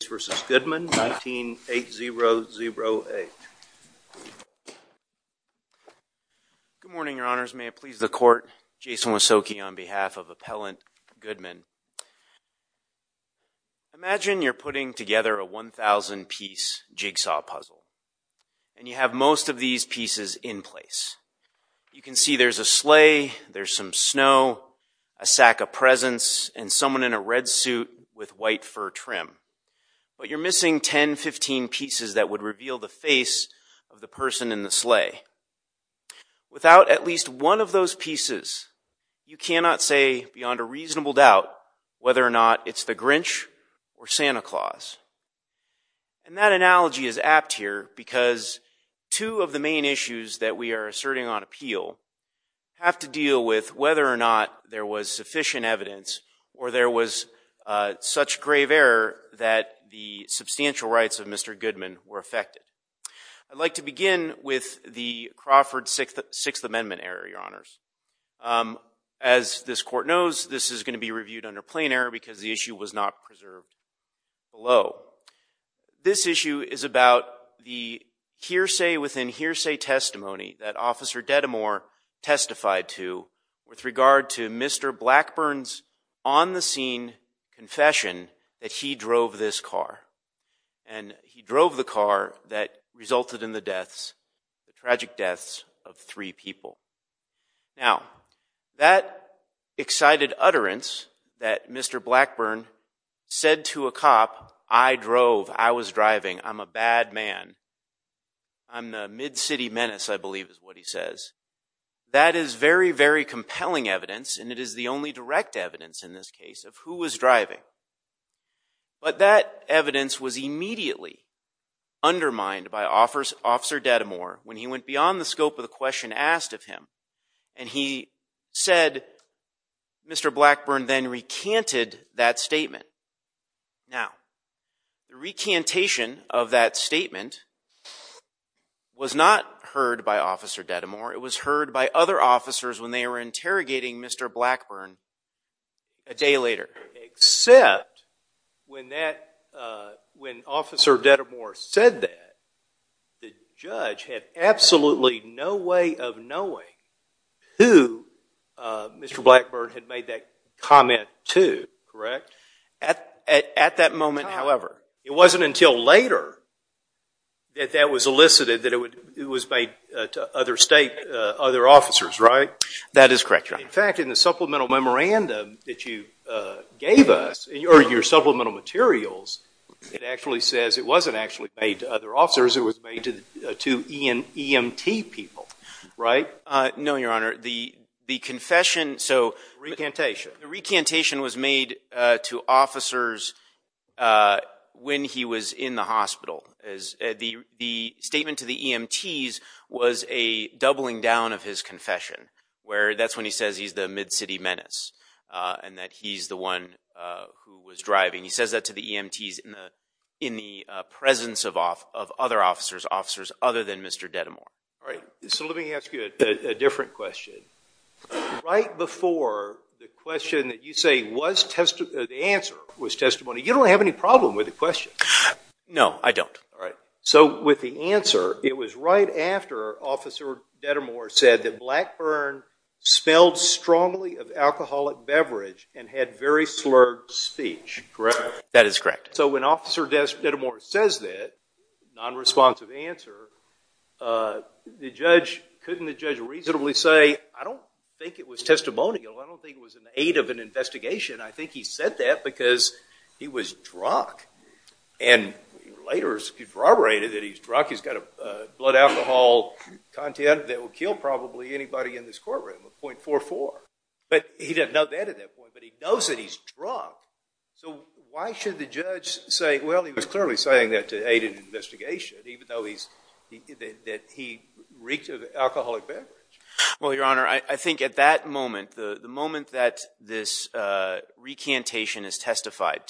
19-8008. Good morning, your honors. May it please the court. Jason Wysoki on behalf of Appellant Goodman. Imagine you're putting together a 1,000-piece jigsaw puzzle, and you have most of these pieces in place. You can see there's a sleigh, there's some snow, a sack of presents, and someone in a red suit with white fur trim. But you're missing 10, 15 pieces that would reveal the face of the person in the sleigh. Without at least one of those pieces, you cannot say beyond a reasonable doubt whether or not it's the Grinch or Santa Claus. And that analogy is apt here because two of the main issues that we are asserting on appeal have to deal with whether or not there was sufficient evidence or there was such grave error that the substantial rights of Mr. Goodman were affected. I'd like to begin with the Crawford Sixth Amendment error, your honors. As this court knows, this is going to be reviewed under plain error because the issue was not preserved below. This issue is about the hearsay within hearsay testimony that Officer Dedemore testified to with regard to Mr. Blackburn's on-the-scene confession that he drove this car. And he drove the car that resulted in the deaths, the tragic deaths of three people. Now, that excited utterance that Mr. Blackburn said to a cop, I drove, I was driving, I'm a bad man, I'm the mid-city menace, I believe is what he says, that is very, very compelling evidence and it is the only direct evidence in this case of who was driving. But that evidence was immediately undermined by Officer Dedemore when he went beyond the scope of the question asked of him. He said Mr. Blackburn then recanted that statement. Now, the recantation of that statement was not heard by Officer Dedemore. It was heard by other officers when they were interrogating Mr. Blackburn a day later. Except when that, when Officer Dedemore said that, the judge had absolutely no way of knowing who Mr. Blackburn had made that comment to. At that moment, however, it wasn't until later that that was elicited that it was made to other state, other officers, right? That is correct, Your Honor. In fact, in the supplemental memorandum that you gave us, or your supplemental materials, it actually says it wasn't actually made to other officers. It was made to EMT people, right? No, Your Honor. The confession, so recantation, the recantation was made to officers when he was in the hospital. The statement to the EMTs was a doubling down of his confession where that's when he says he's the mid-city menace and that he's the one who was driving. He says that to the EMTs in the presence of other officers, officers other than Mr. Dedemore. All right, so let me ask you a different question. Right before the question that you say was, the answer was testimony, you don't have any problem with the question. No, I don't. All right. So with the answer, it was right after Officer Dedemore said that Blackburn smelled strongly of alcoholic beverage and had very slurred speech, correct? That is correct. So when Officer Dedemore says that, non-responsive answer, couldn't the judge reasonably say, I don't think it was testimonial, I don't think it was an aid of an investigation, I think he said that because he was drunk. And later corroborated that he's drunk, he's got blood alcohol content that will kill probably anybody in this courtroom, a .44. But he didn't know that at that point, but he knows that he's drunk. So why should the judge say, well, he was clearly saying that to aid an investigation, even though he's, that he reeked of alcoholic beverage? Well, Your Honor, I think at that moment, the moment that this recantation is over,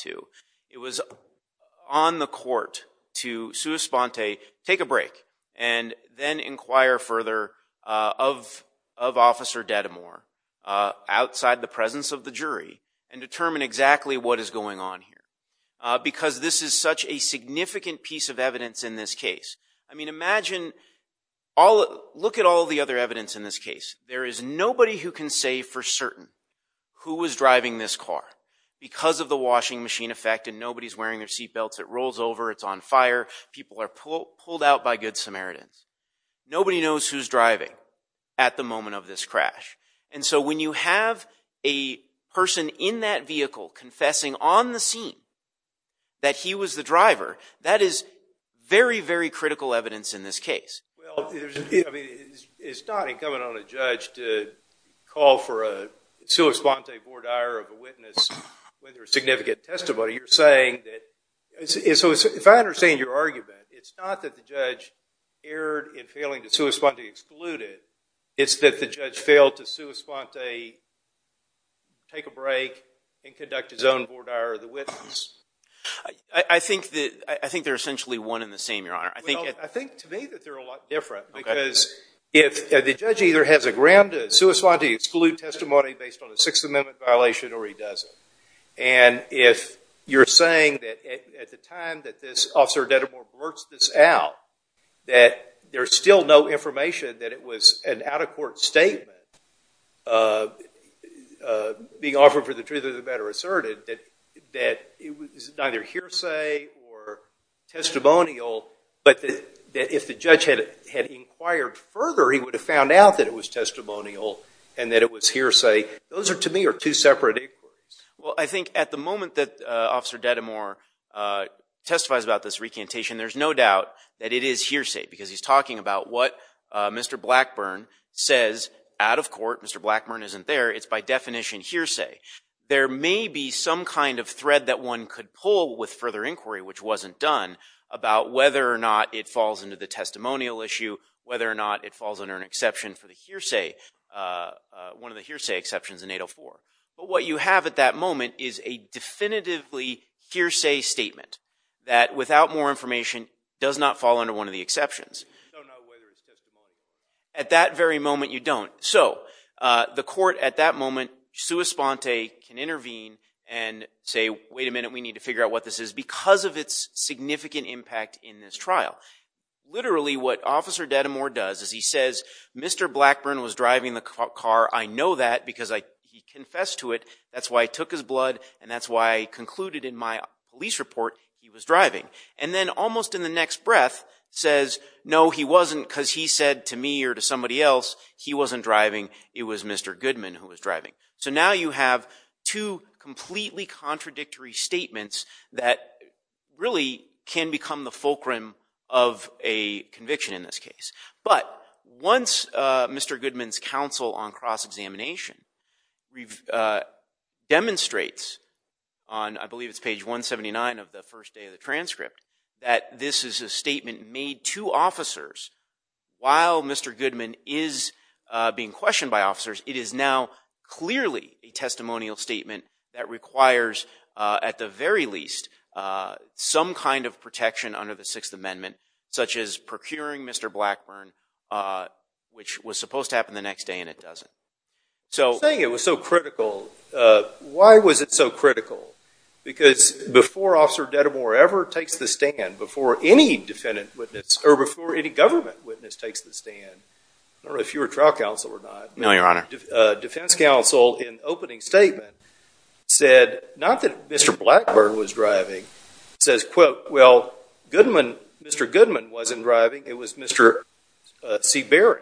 and then inquire further of Officer Dedemore outside the presence of the jury and determine exactly what is going on here. Because this is such a significant piece of evidence in this case. I mean, imagine all, look at all the other evidence in this case. There is nobody who can say for certain who was driving this car because of the washing machine effect and nobody's wearing their seatbelts, it rolls over, it's on fire, people are pulled out by Good Samaritans. Nobody knows who's driving at the moment of this crash. And so when you have a person in that vehicle confessing on the scene that he was the driver, that is very, very critical evidence in this case. Well, I mean, it's not incumbent on a judge to call for a sua sponte board ire of a witness when there is significant testimony. You're saying that, if I understand your argument, it's not that the judge erred in failing to sua sponte exclude it, it's that the judge failed to sua sponte take a break and conduct his own board ire of the witness. I think they're essentially one and the same, Your Honor. I think to me that they're a lot different because if the judge either has a grand sua sponte exclude testimony based on a Sixth Amendment violation or he doesn't. And if you're saying that at the time that this Officer Deddemore blurts this out, that there's still no information that it was an out-of-court statement being offered for the truth of the matter asserted, that it was neither hearsay or testimonial, but that if the judge had inquired further, he would have found out that it was testimonial and that it was hearsay. Those are, to me, are two separate inquiries. Well, I think at the moment that Officer Deddemore testifies about this recantation, there's no doubt that it is hearsay because he's talking about what Mr. Blackburn says out of court. Mr. Blackburn isn't there. It's by definition hearsay. There may be some kind of thread that one could pull with further inquiry, which wasn't done, about whether or not it falls under an exception for the hearsay, one of the hearsay exceptions in 804. But what you have at that moment is a definitively hearsay statement that, without more information, does not fall under one of the exceptions. You don't know whether it's testimonial. At that very moment, you don't. So the court at that moment, sua sponte, can intervene and say, wait a minute, we need to figure out what this is because of its significant impact in this trial. Literally, what Officer Deddemore does is he says, Mr. Blackburn was driving the car. I know that because he confessed to it. That's why he took his blood, and that's why I concluded in my police report he was driving. And then, almost in the next breath, says, no, he wasn't because he said to me or to somebody else he wasn't driving. It was Mr. Goodman who was driving. So now you have two completely contradictory statements that really can become the fulcrum of a conviction in this case. But once Mr. Goodman's counsel on cross-examination demonstrates on, I believe it's page 179 of the first day of the transcript, that this is a statement made to officers while Mr. Goodman was questioned by officers, it is now clearly a testimonial statement that requires, at the very least, some kind of protection under the Sixth Amendment, such as procuring Mr. Blackburn, which was supposed to happen the next day and it doesn't. So saying it was so critical, why was it so critical? Because before Officer Deddemore ever takes the stand, before any defendant witness or before any government witness takes the stand, I don't know if you were trial counsel or not, but a defense counsel in opening statement said, not that Mr. Blackburn was driving, says, quote, well, Mr. Goodman wasn't driving, it was Mr. Seabering.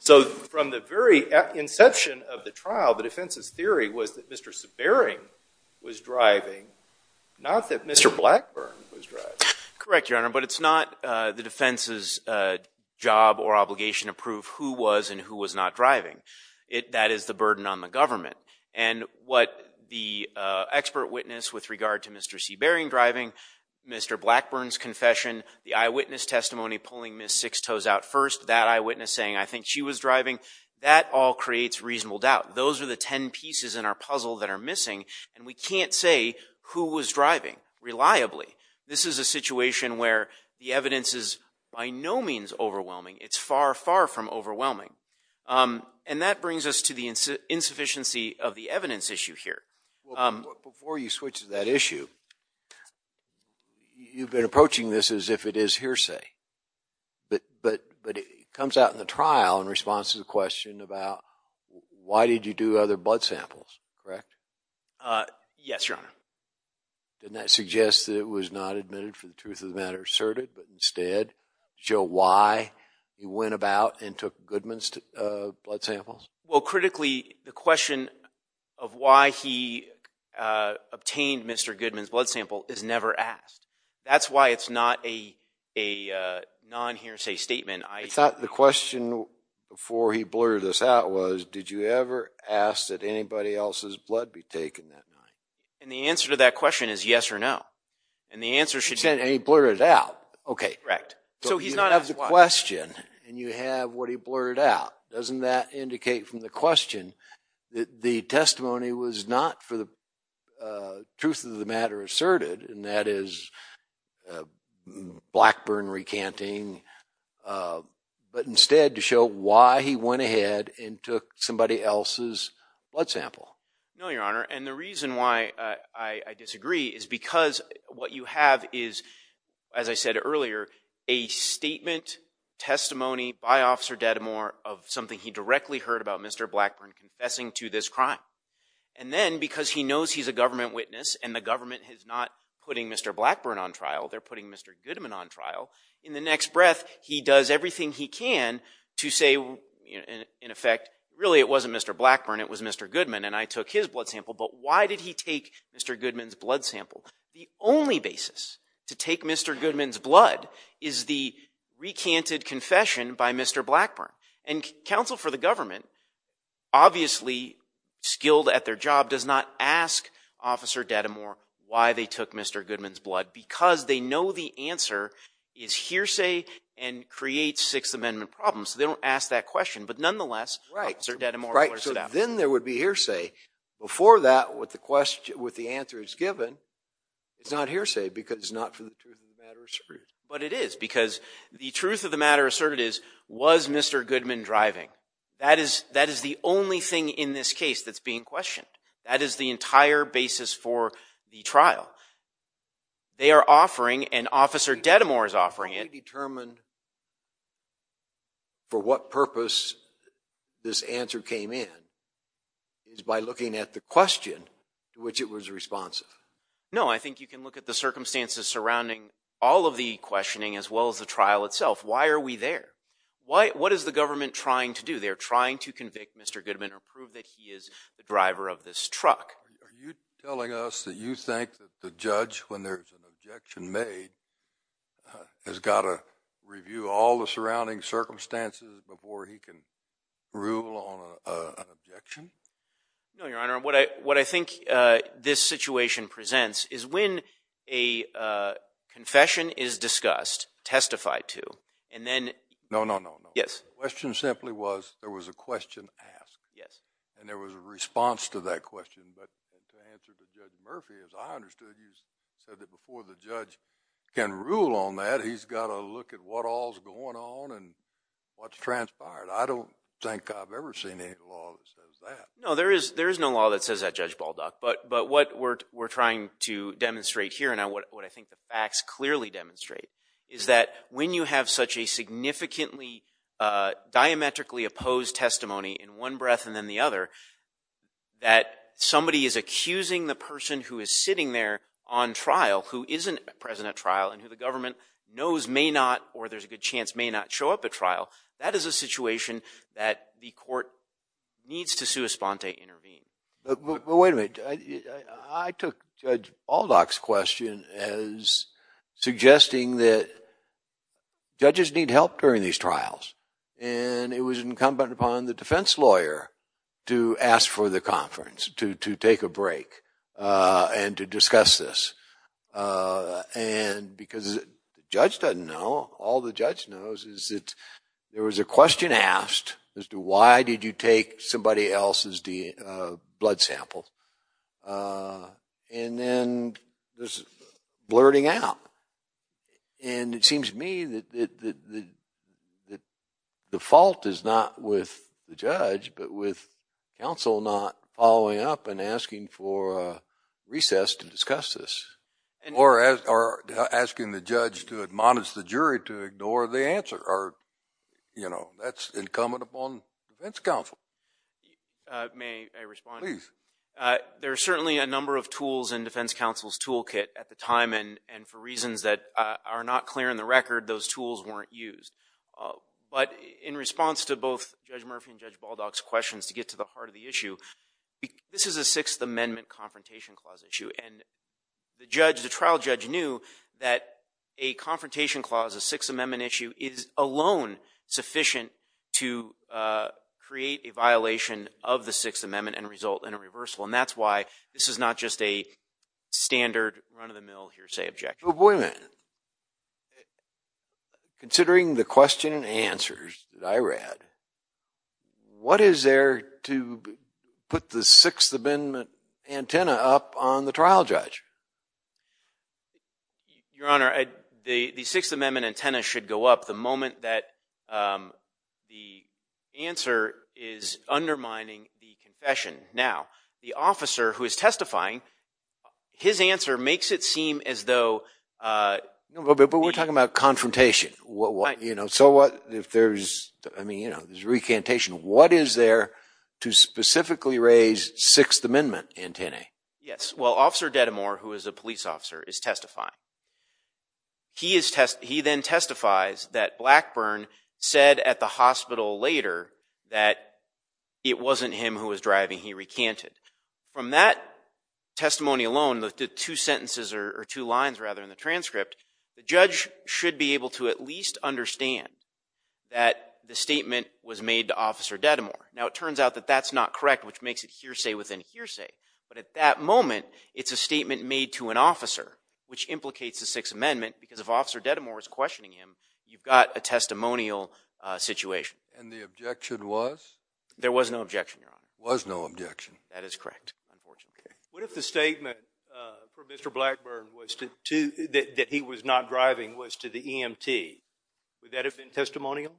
So from the very inception of the trial, the defense's theory was that Mr. Seabering was driving, not that Mr. Blackburn was driving. Correct, Your Honor, but it's not the defense's job or obligation to prove who was and who was not driving. That is the burden on the government. And what the expert witness with regard to Mr. Seabering driving, Mr. Blackburn's confession, the eyewitness testimony pulling Ms. Sixtoes out first, that eyewitness saying, I think she was driving, that all creates reasonable doubt. Those are the 10 pieces in our puzzle that are missing, and we can't say who was driving reliably. This is a situation where the evidence is by no means overwhelming. It's far, far from overwhelming. And that brings us to the insufficiency of the evidence issue here. Before you switch to that issue, you've been approaching this as if it is hearsay, but it comes out in the trial in response to the question about why did you do other blood samples, correct? Yes, Your Honor. Didn't that suggest that it was not admitted for the truth of the matter asserted, but instead show why you went about and took Goodman's blood samples? Well, critically, the question of why he obtained Mr. Goodman's blood sample is never asked. That's why it's not a non-hearsay statement. I thought the question before he blurted this out was, did you ever ask that anybody else's blood be taken that night? And the answer to that question is yes or no. And the answer should be... And he blurted it out. Okay. Correct. So he's not asked why. So you have the question, and you have what he blurted out. Doesn't that indicate from the question that the testimony was not for the truth of the matter asserted, and that is Blackburn recanting, but instead to show why he went ahead and took somebody else's blood sample? No, Your Honor. And the reason why I disagree is because what you have is, as I said earlier, a statement, testimony by Officer Dedimore of something he directly heard about Mr. Blackburn confessing to this crime. And then, because he knows he's a government witness, and the government is not putting Mr. Blackburn on trial, they're putting Mr. Goodman on trial, in the next breath, he does everything he can to say, in effect, really it wasn't Mr. Blackburn, it was Mr. Goodman. And I took his blood sample, but why did he take Mr. Goodman's blood sample? The only basis to take Mr. Goodman's blood is the recanted confession by Mr. Blackburn. And counsel for the government, obviously skilled at their job, does not ask Officer Dedimore why they took Mr. Goodman's blood, because they know the answer is hearsay and creates Sixth Amendment problems. So they don't ask that question. But nonetheless, Officer Dedimore blurted it out. But then there would be hearsay. Before that, with the question, with the answer that's given, it's not hearsay because it's not for the truth of the matter asserted. But it is, because the truth of the matter asserted is, was Mr. Goodman driving? That is, that is the only thing in this case that's being questioned. That is the entire basis for the trial. They are offering, and Officer Dedimore is offering it. The only way we determined for what purpose this answer came in is by looking at the question to which it was responsive. No, I think you can look at the circumstances surrounding all of the questioning as well as the trial itself. Why are we there? What is the government trying to do? They're trying to convict Mr. Goodman or prove that he is the driver of this truck. Are you telling us that you think that the judge, when there's an objection made, has got to review all the surrounding circumstances before he can rule on an objection? No, Your Honor. What I think this situation presents is when a confession is discussed, testified to, and then- No, no, no, no. Yes. The question simply was, there was a question asked. Yes. And there was a response to that question, but to answer to Judge Murphy, as I understood, you said that before the judge can rule on that, he's got to look at what all is going on and what transpired. I don't think I've ever seen any law that says that. No, there is no law that says that, Judge Baldock. But what we're trying to demonstrate here, and what I think the facts clearly demonstrate, is that when you have such a significantly diametrically opposed testimony in one breath and then the other, that somebody is accusing the person who is sitting there on trial, who isn't present at trial, and who the government knows may not, or there's a good chance may not show up at trial, that is a situation that the court needs to sua sponte, intervene. But wait a minute, I took Judge Baldock's question as suggesting that judges need help during these trials, and it was incumbent upon the defense lawyer to ask for the conference, to take a break, and to discuss this. And because the judge doesn't know, all the judge knows is that there was a question asked as to why did you take somebody else's blood sample, and then there's blurting out. And it seems to me that the fault is not with the judge, but with counsel not following up and asking for a recess to discuss this. Or asking the judge to admonish the jury to ignore the answer. That's incumbent upon defense counsel. May I respond? Please. There are certainly a number of tools in defense counsel's toolkit at the time, and for reasons that are not clear in the record, those tools weren't used. But in response to both Judge Murphy and Judge Baldock's questions, to get to the heart of the issue, this is a Sixth Amendment Confrontation Clause issue, and the trial judge knew that a Confrontation Clause, a Sixth Amendment issue, is alone sufficient to create a violation of the Sixth Amendment and result in a reversal, and that's why this is not just a standard run-of-the-mill hearsay objection. So wait a minute. Considering the question and answers that I read, what is there to put the Sixth Amendment antenna up on the trial judge? Your Honor, the Sixth Amendment antenna should go up the moment that the answer is undermining the confession. Now, the officer who is testifying, his answer makes it seem as though... But we're talking about confrontation. So what if there's, I mean, you know, there's recantation. What is there to specifically raise Sixth Amendment antennae? Yes. Well, Officer Dedamore, who is a police officer, is testifying. He then testifies that Blackburn said at the hospital later that it wasn't him who was intentionally recanted. From that testimony alone, the two sentences or two lines, rather, in the transcript, the judge should be able to at least understand that the statement was made to Officer Dedamore. Now, it turns out that that's not correct, which makes it hearsay within hearsay, but at that moment, it's a statement made to an officer, which implicates the Sixth Amendment because if Officer Dedamore is questioning him, you've got a testimonial situation. And the objection was? There was no objection, Your Honor. There was no objection. That is correct. Unfortunately. What if the statement from Mr. Blackburn was that he was not driving was to the EMT? Would that have been testimonial?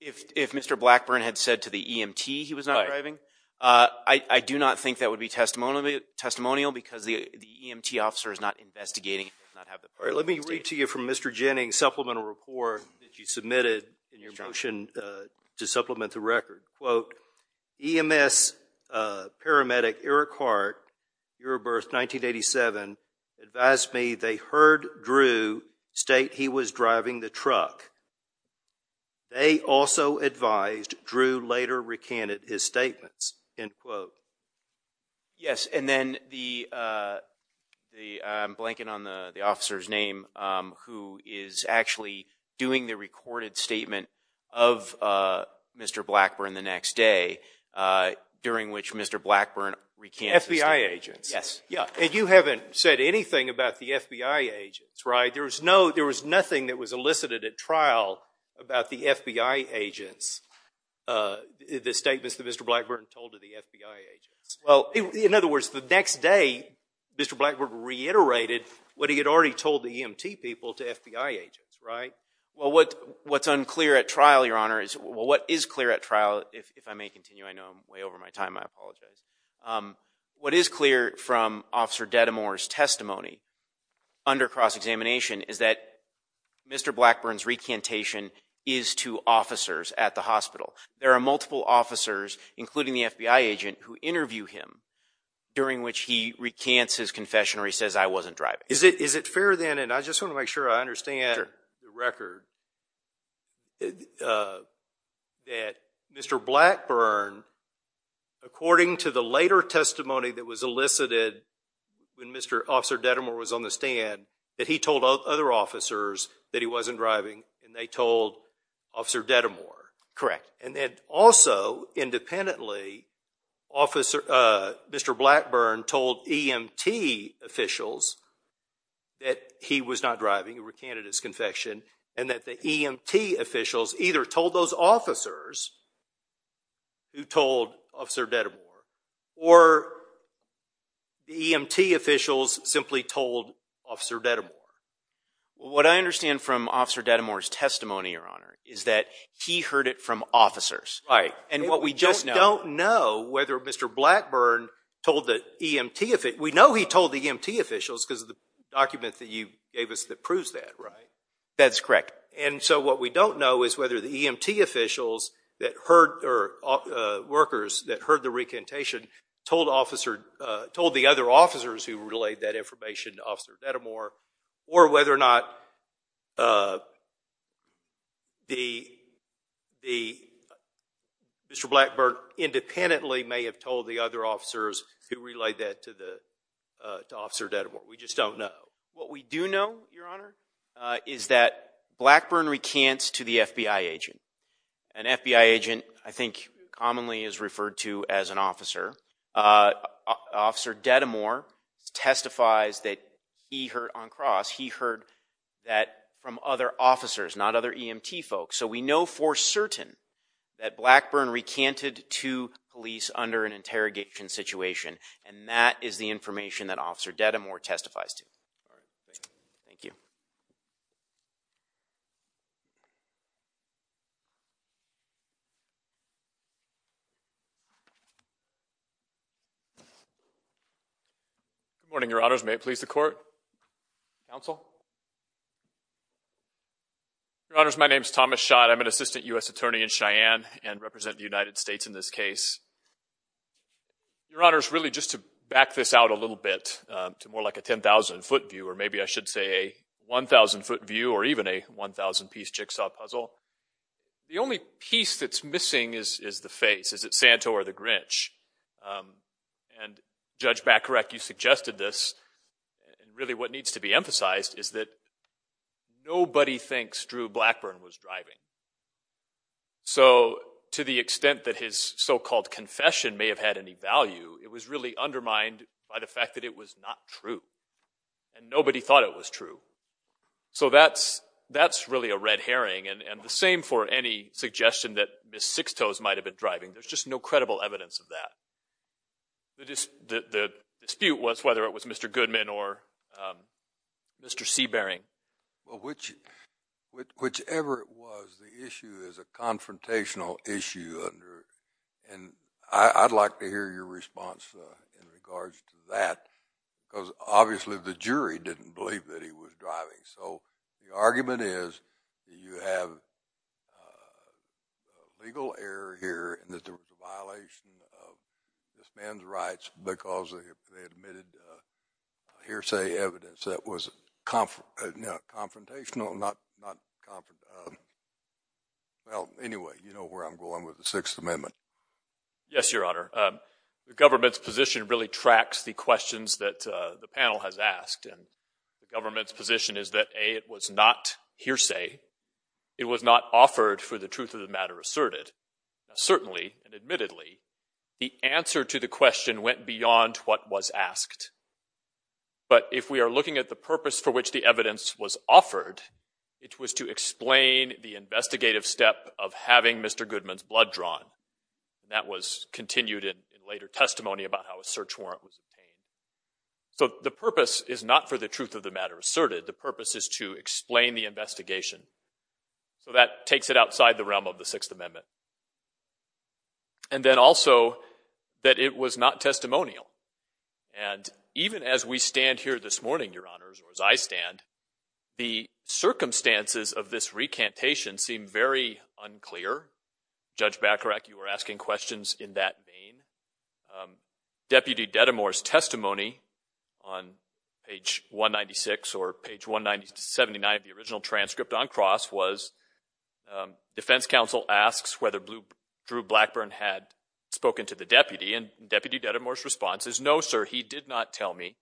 If Mr. Blackburn had said to the EMT he was not driving? I do not think that would be testimonial because the EMT officer is not investigating. All right. Let me read to you from Mr. Jennings' supplemental report that you submitted in your motion to the EMS paramedic, Eric Hart, year of birth, 1987, advised me they heard Drew state he was driving the truck. They also advised Drew later recanted his statements, end quote. Yes. And then the, I'm blanking on the officer's name, who is actually doing the recorded statement of Mr. Blackburn the next day, during which Mr. Blackburn recanted his statements. FBI agents. Yes. Yeah. And you haven't said anything about the FBI agents, right? There was no, there was nothing that was elicited at trial about the FBI agents, the statements that Mr. Blackburn told to the FBI agents. Well, in other words, the next day, Mr. Blackburn reiterated what he had already told the EMT people to FBI agents, right? Well, what's unclear at trial, Your Honor, is, well, what is clear at trial, if I may continue, I know I'm way over my time, I apologize. What is clear from Officer Dedamore's testimony under cross-examination is that Mr. Blackburn's recantation is to officers at the hospital. There are multiple officers, including the FBI agent, who interview him during which he recants his confession or he says, I wasn't driving. Is it fair then, and I just want to make sure I understand the record, that Mr. Blackburn, according to the later testimony that was elicited when Mr. Officer Dedamore was on the stand, that he told other officers that he wasn't driving and they told Officer Dedamore? Correct. And that also, independently, Mr. Blackburn told EMT officials that he was not driving, he recanted his confession, and that the EMT officials either told those officers who told Officer Dedamore, or the EMT officials simply told Officer Dedamore. What I understand from Officer Dedamore's testimony, Your Honor, is that he heard it from officers. Right. And what we just don't know, whether Mr. Blackburn told the EMT, we know he told the EMT officials because of the document that you gave us that proves that, right? That's correct. And so what we don't know is whether the EMT officials that heard, or workers that heard the recantation told the other officers who relayed that information to Officer Dedamore, or whether or not Mr. Blackburn independently may have told the other officers who relayed that to Officer Dedamore. We just don't know. What we do know, Your Honor, is that Blackburn recants to the FBI agent. An FBI agent, I think, commonly is referred to as an officer. Officer Dedamore testifies that he heard on cross. He heard that from other officers, not other EMT folks. So we know for certain that Blackburn recanted to police under an interrogation situation, and that is the information that Officer Dedamore testifies to. Thank you. Thank you. Good morning, Your Honors. May it please the Court? Counsel? Your Honors, my name is Thomas Schott. I'm an assistant U.S. attorney in Cheyenne and represent the United States in this case. Your Honors, really just to back this out a little bit to more like a 10,000-foot view, or maybe I should say a 1,000-foot view, or even a 1,000-piece jigsaw puzzle, the only piece that's missing is the face. Is it Santo or the Grinch? And Judge Bacarek, you suggested this. Really what needs to be emphasized is that nobody thinks Drew Blackburn was driving. So to the extent that his so-called confession may have had any value, it was really undermined by the fact that it was not true. And nobody thought it was true. So that's really a red herring, and the same for any suggestion that Ms. Sixtoes might have been driving. There's just no credible evidence of that. The dispute was whether it was Mr. Goodman or Mr. Seabering. Whichever it was, the issue is a confrontational issue, and I'd like to hear your response in regards to that, because obviously the jury didn't believe that he was driving. So the argument is that you have a legal error here in that there was a violation of this man's rights because they admitted hearsay evidence that was confrontational, not confrontational. Well, anyway, you know where I'm going with the Sixth Amendment. Yes, Your Honor. The government's position really tracks the questions that the panel has asked, and the government's position is that, A, it was not hearsay. It was not offered for the truth of the matter asserted. Certainly, and admittedly, the answer to the question went beyond what was asked. But if we are looking at the purpose for which the evidence was offered, it was to explain the investigative step of having Mr. Goodman's blood drawn. That was continued in later testimony about how a search warrant was obtained. So the purpose is not for the truth of the matter asserted. The purpose is to explain the investigation. So that takes it outside the realm of the Sixth Amendment. And then also that it was not testimonial. And even as we stand here this morning, Your Honors, or as I stand, the circumstances of this recantation seem very unclear. Judge Bacharach, you were asking questions in that vein. Deputy Dedemore's testimony on page 196 or page 1979 of the original transcript on cross was defense counsel asks whether Drew Blackburn had spoken to the deputy. And Deputy Dedemore's response is, no, sir, he did not tell me.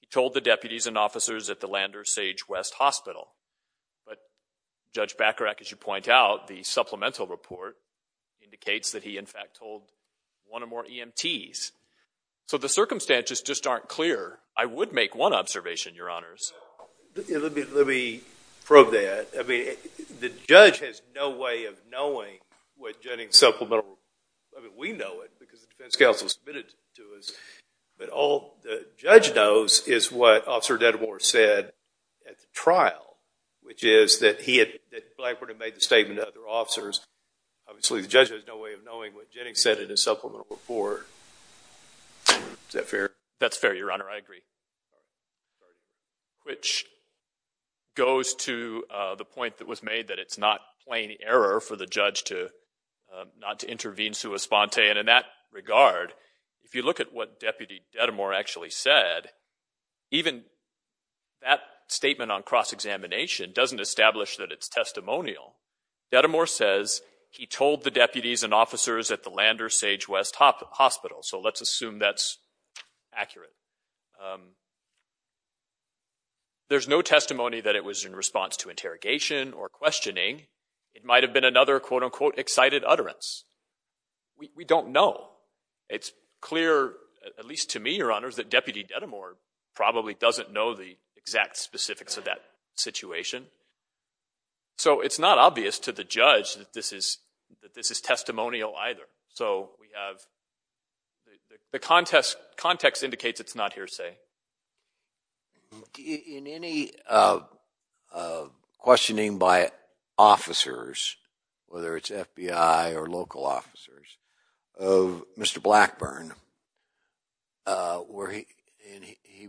He told the deputies and officers at the Lander Sage West Hospital. But Judge Bacharach, as you point out, the supplemental report indicates that he, in fact, told one or more EMTs. So the circumstances just aren't clear. I would make one observation, Your Honors. Let me probe that. I mean, the judge has no way of knowing what Jennings' supplemental report is. I mean, we know it because the defense counsel submitted it to us. But all the judge knows is what Officer Dedemore said at the trial, which is that Blackburn had made the statement to other officers. Obviously, the judge has no way of knowing what Jennings said in his supplemental report. Is that fair? That's fair, Your Honor. I agree. Which goes to the point that was made that it's not plain error for the judge to not to intervene sui sponte. And in that regard, if you look at what Deputy Dedemore actually said, even that statement on cross-examination doesn't establish that it's testimonial. Dedemore says he told the deputies and officers at the Lander Sage West Hospital. So let's assume that's accurate. There's no testimony that it was in response to interrogation or questioning. It might have been another, quote unquote, excited utterance. We don't know. It's clear, at least to me, Your Honors, that Deputy Dedemore probably doesn't know the exact specifics of that situation. So it's not obvious to the judge that this is testimonial either. So we have, the context indicates it's not hearsay. In any questioning by officers, whether it's FBI or local officers, of Mr. Blackburn,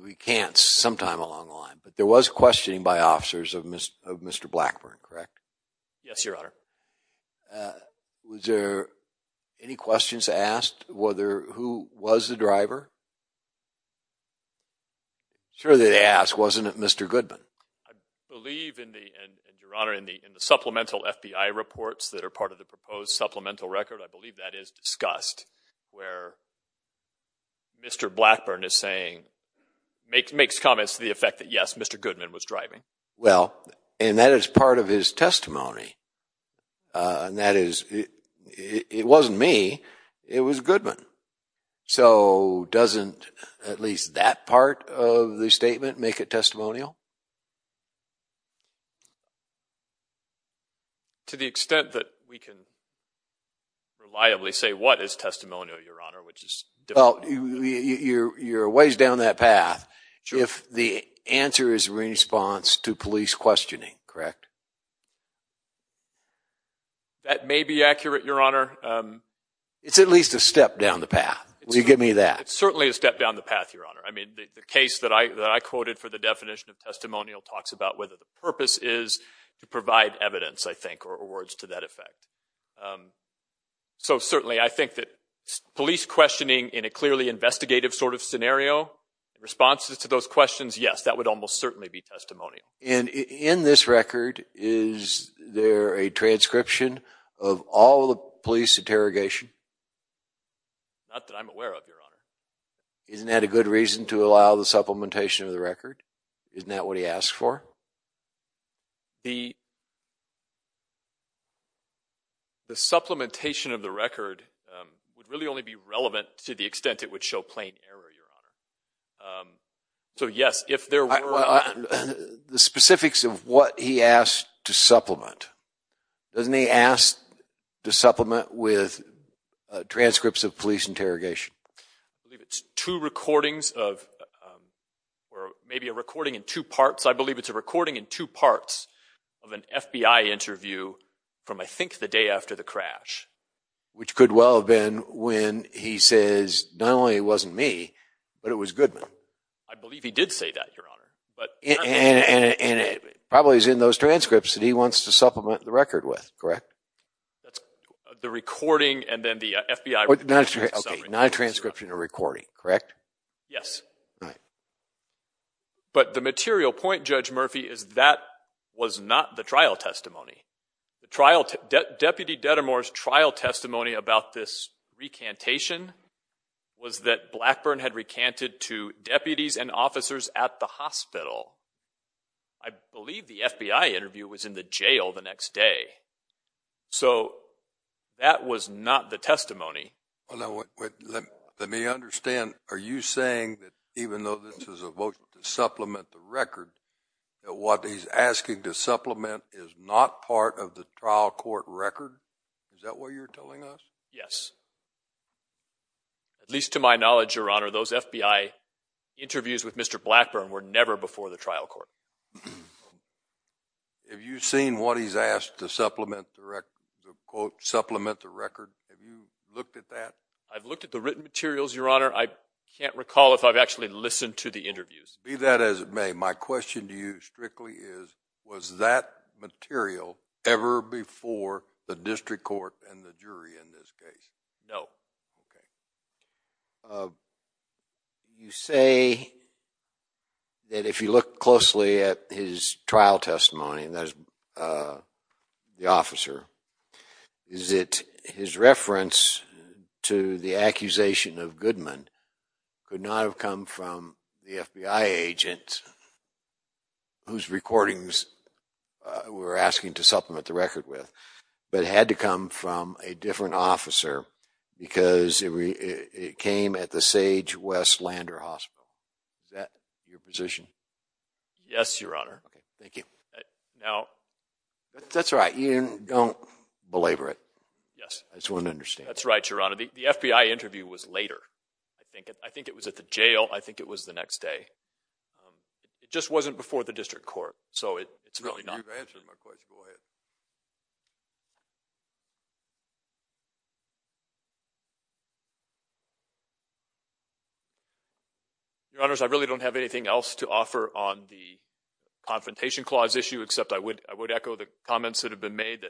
we can't sometime along the line. But there was questioning by officers of Mr. Blackburn, correct? Yes, Your Honor. Was there any questions asked? Whether, who was the driver? Sure they asked, wasn't it Mr. Goodman? I believe in the, and Your Honor, in the supplemental FBI reports that are part of the proposed supplemental record, I believe that is discussed where Mr. Blackburn is saying, makes comments to the effect that yes, Mr. Goodman was driving. Well, and that is part of his testimony. And that is, it wasn't me, it was Goodman. So doesn't at least that part of the statement make it testimonial? To the extent that we can reliably say, what is testimonial, Your Honor? Which is- Well, you're a ways down that path. If the answer is a response to police questioning, correct? That may be accurate, Your Honor. It's at least a step down the path. Will you give me that? It's certainly a step down the path, Your Honor. I mean, the case that I quoted for the definition of testimonial talks about whether the purpose is to provide evidence, I think, or words to that effect. So certainly, I think that police questioning in a clearly investigative sort of scenario, responses to those questions, yes, that would almost certainly be testimonial. And in this record, is there a transcription of all the police interrogation? Not that I'm aware of, Your Honor. Isn't that a good reason to allow the supplementation of the record? Isn't that what he asked for? The supplementation of the record would really only be relevant to the extent it would show plain error, Your Honor. So yes, if there were- The specifics of what he asked to supplement. Doesn't he ask to supplement with transcripts of police interrogation? I believe it's two recordings of, or maybe a recording in two parts. I believe it's a recording in two parts of an FBI interview from, I think, the day after the crash. Which could well have been when he says, not only it wasn't me, but it was Goodman. I believe he did say that, Your Honor. And it probably is in those transcripts that he wants to supplement the record with, correct? The recording and then the FBI- Not a transcription or recording, correct? Yes. But the material point, Judge Murphy, is that was not the trial testimony. Deputy Dedamore's trial testimony about this recantation was that Blackburn had recanted to deputies and officers at the hospital. I believe the FBI interview was in the jail the next day. So that was not the testimony. Now, let me understand. Are you saying that even though this is a vote to supplement the record, that what he's asking to supplement is not part of the trial court record? Is that what you're telling us? Yes. At least to my knowledge, Your Honor, those FBI interviews with Mr. Blackburn were never before the trial court. Have you seen what he's asked to supplement the record? Have you looked at that? I've looked at the written materials, Your Honor. I can't recall if I've actually listened to the interviews. Be that as it may, my question to you strictly is, was that material ever before the district court and the jury in this case? No. You say that if you look closely at his trial testimony, and that is the officer, is it his reference to the accusation of Goodman could not have come from the FBI agent whose recordings we were asking to supplement the record with, but had to come from a different officer because it came at the Sage West Lander Hospital? Is that your position? Yes, Your Honor. Thank you. Now. That's right. You don't belabor it. Yes. I just want to understand. That's right, Your Honor. The FBI interview was later. I think it was at the jail. I think it was the next day. It just wasn't before the district court. So it's really not. You've answered my question. Go ahead. Your Honors, I really don't have anything else to offer on the confrontation clause issue, except I would echo the comments that have been made.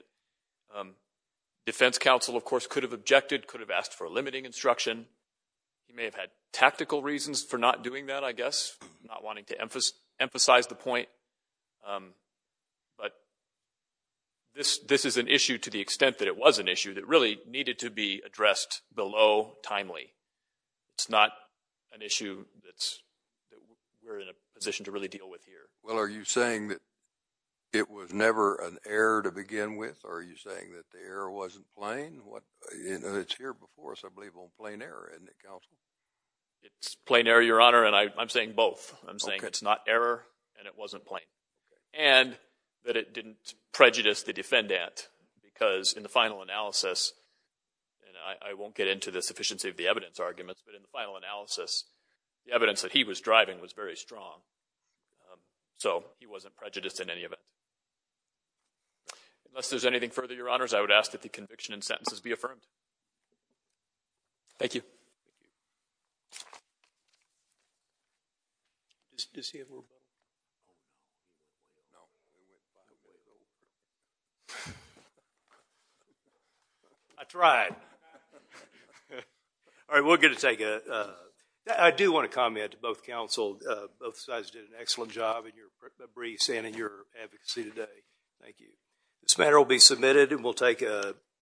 The defense counsel, of course, could have objected, could have asked for a limiting instruction. He may have had tactical reasons for not doing that, I guess, not wanting to emphasize the point. But this is an issue to the extent that it was an issue that really needed to be addressed below timely. It's not an issue that we're in a position to really deal with here. Well, are you saying that it was never an error to begin with? Or are you saying that the error wasn't plain? It's here before us, I believe, on plain error, isn't it, counsel? It's plain error, Your Honor. And I'm saying both. I'm saying it's not error, and it wasn't plain. And that it didn't prejudice the defendant, because in the final analysis, and I won't get into the sufficiency of the evidence arguments, but in the final analysis, the evidence that he was driving was very strong. So he wasn't prejudiced in any of it. Unless there's anything further, Your Honors, I would ask that the conviction and sentences be affirmed. Thank you. Does he have a little? No. I tried. I tried. All right, we're going to take a, I do want to comment to both counsel. Both sides did an excellent job in your briefs and in your advocacy today. Thank you. This matter will be submitted, and we'll take a.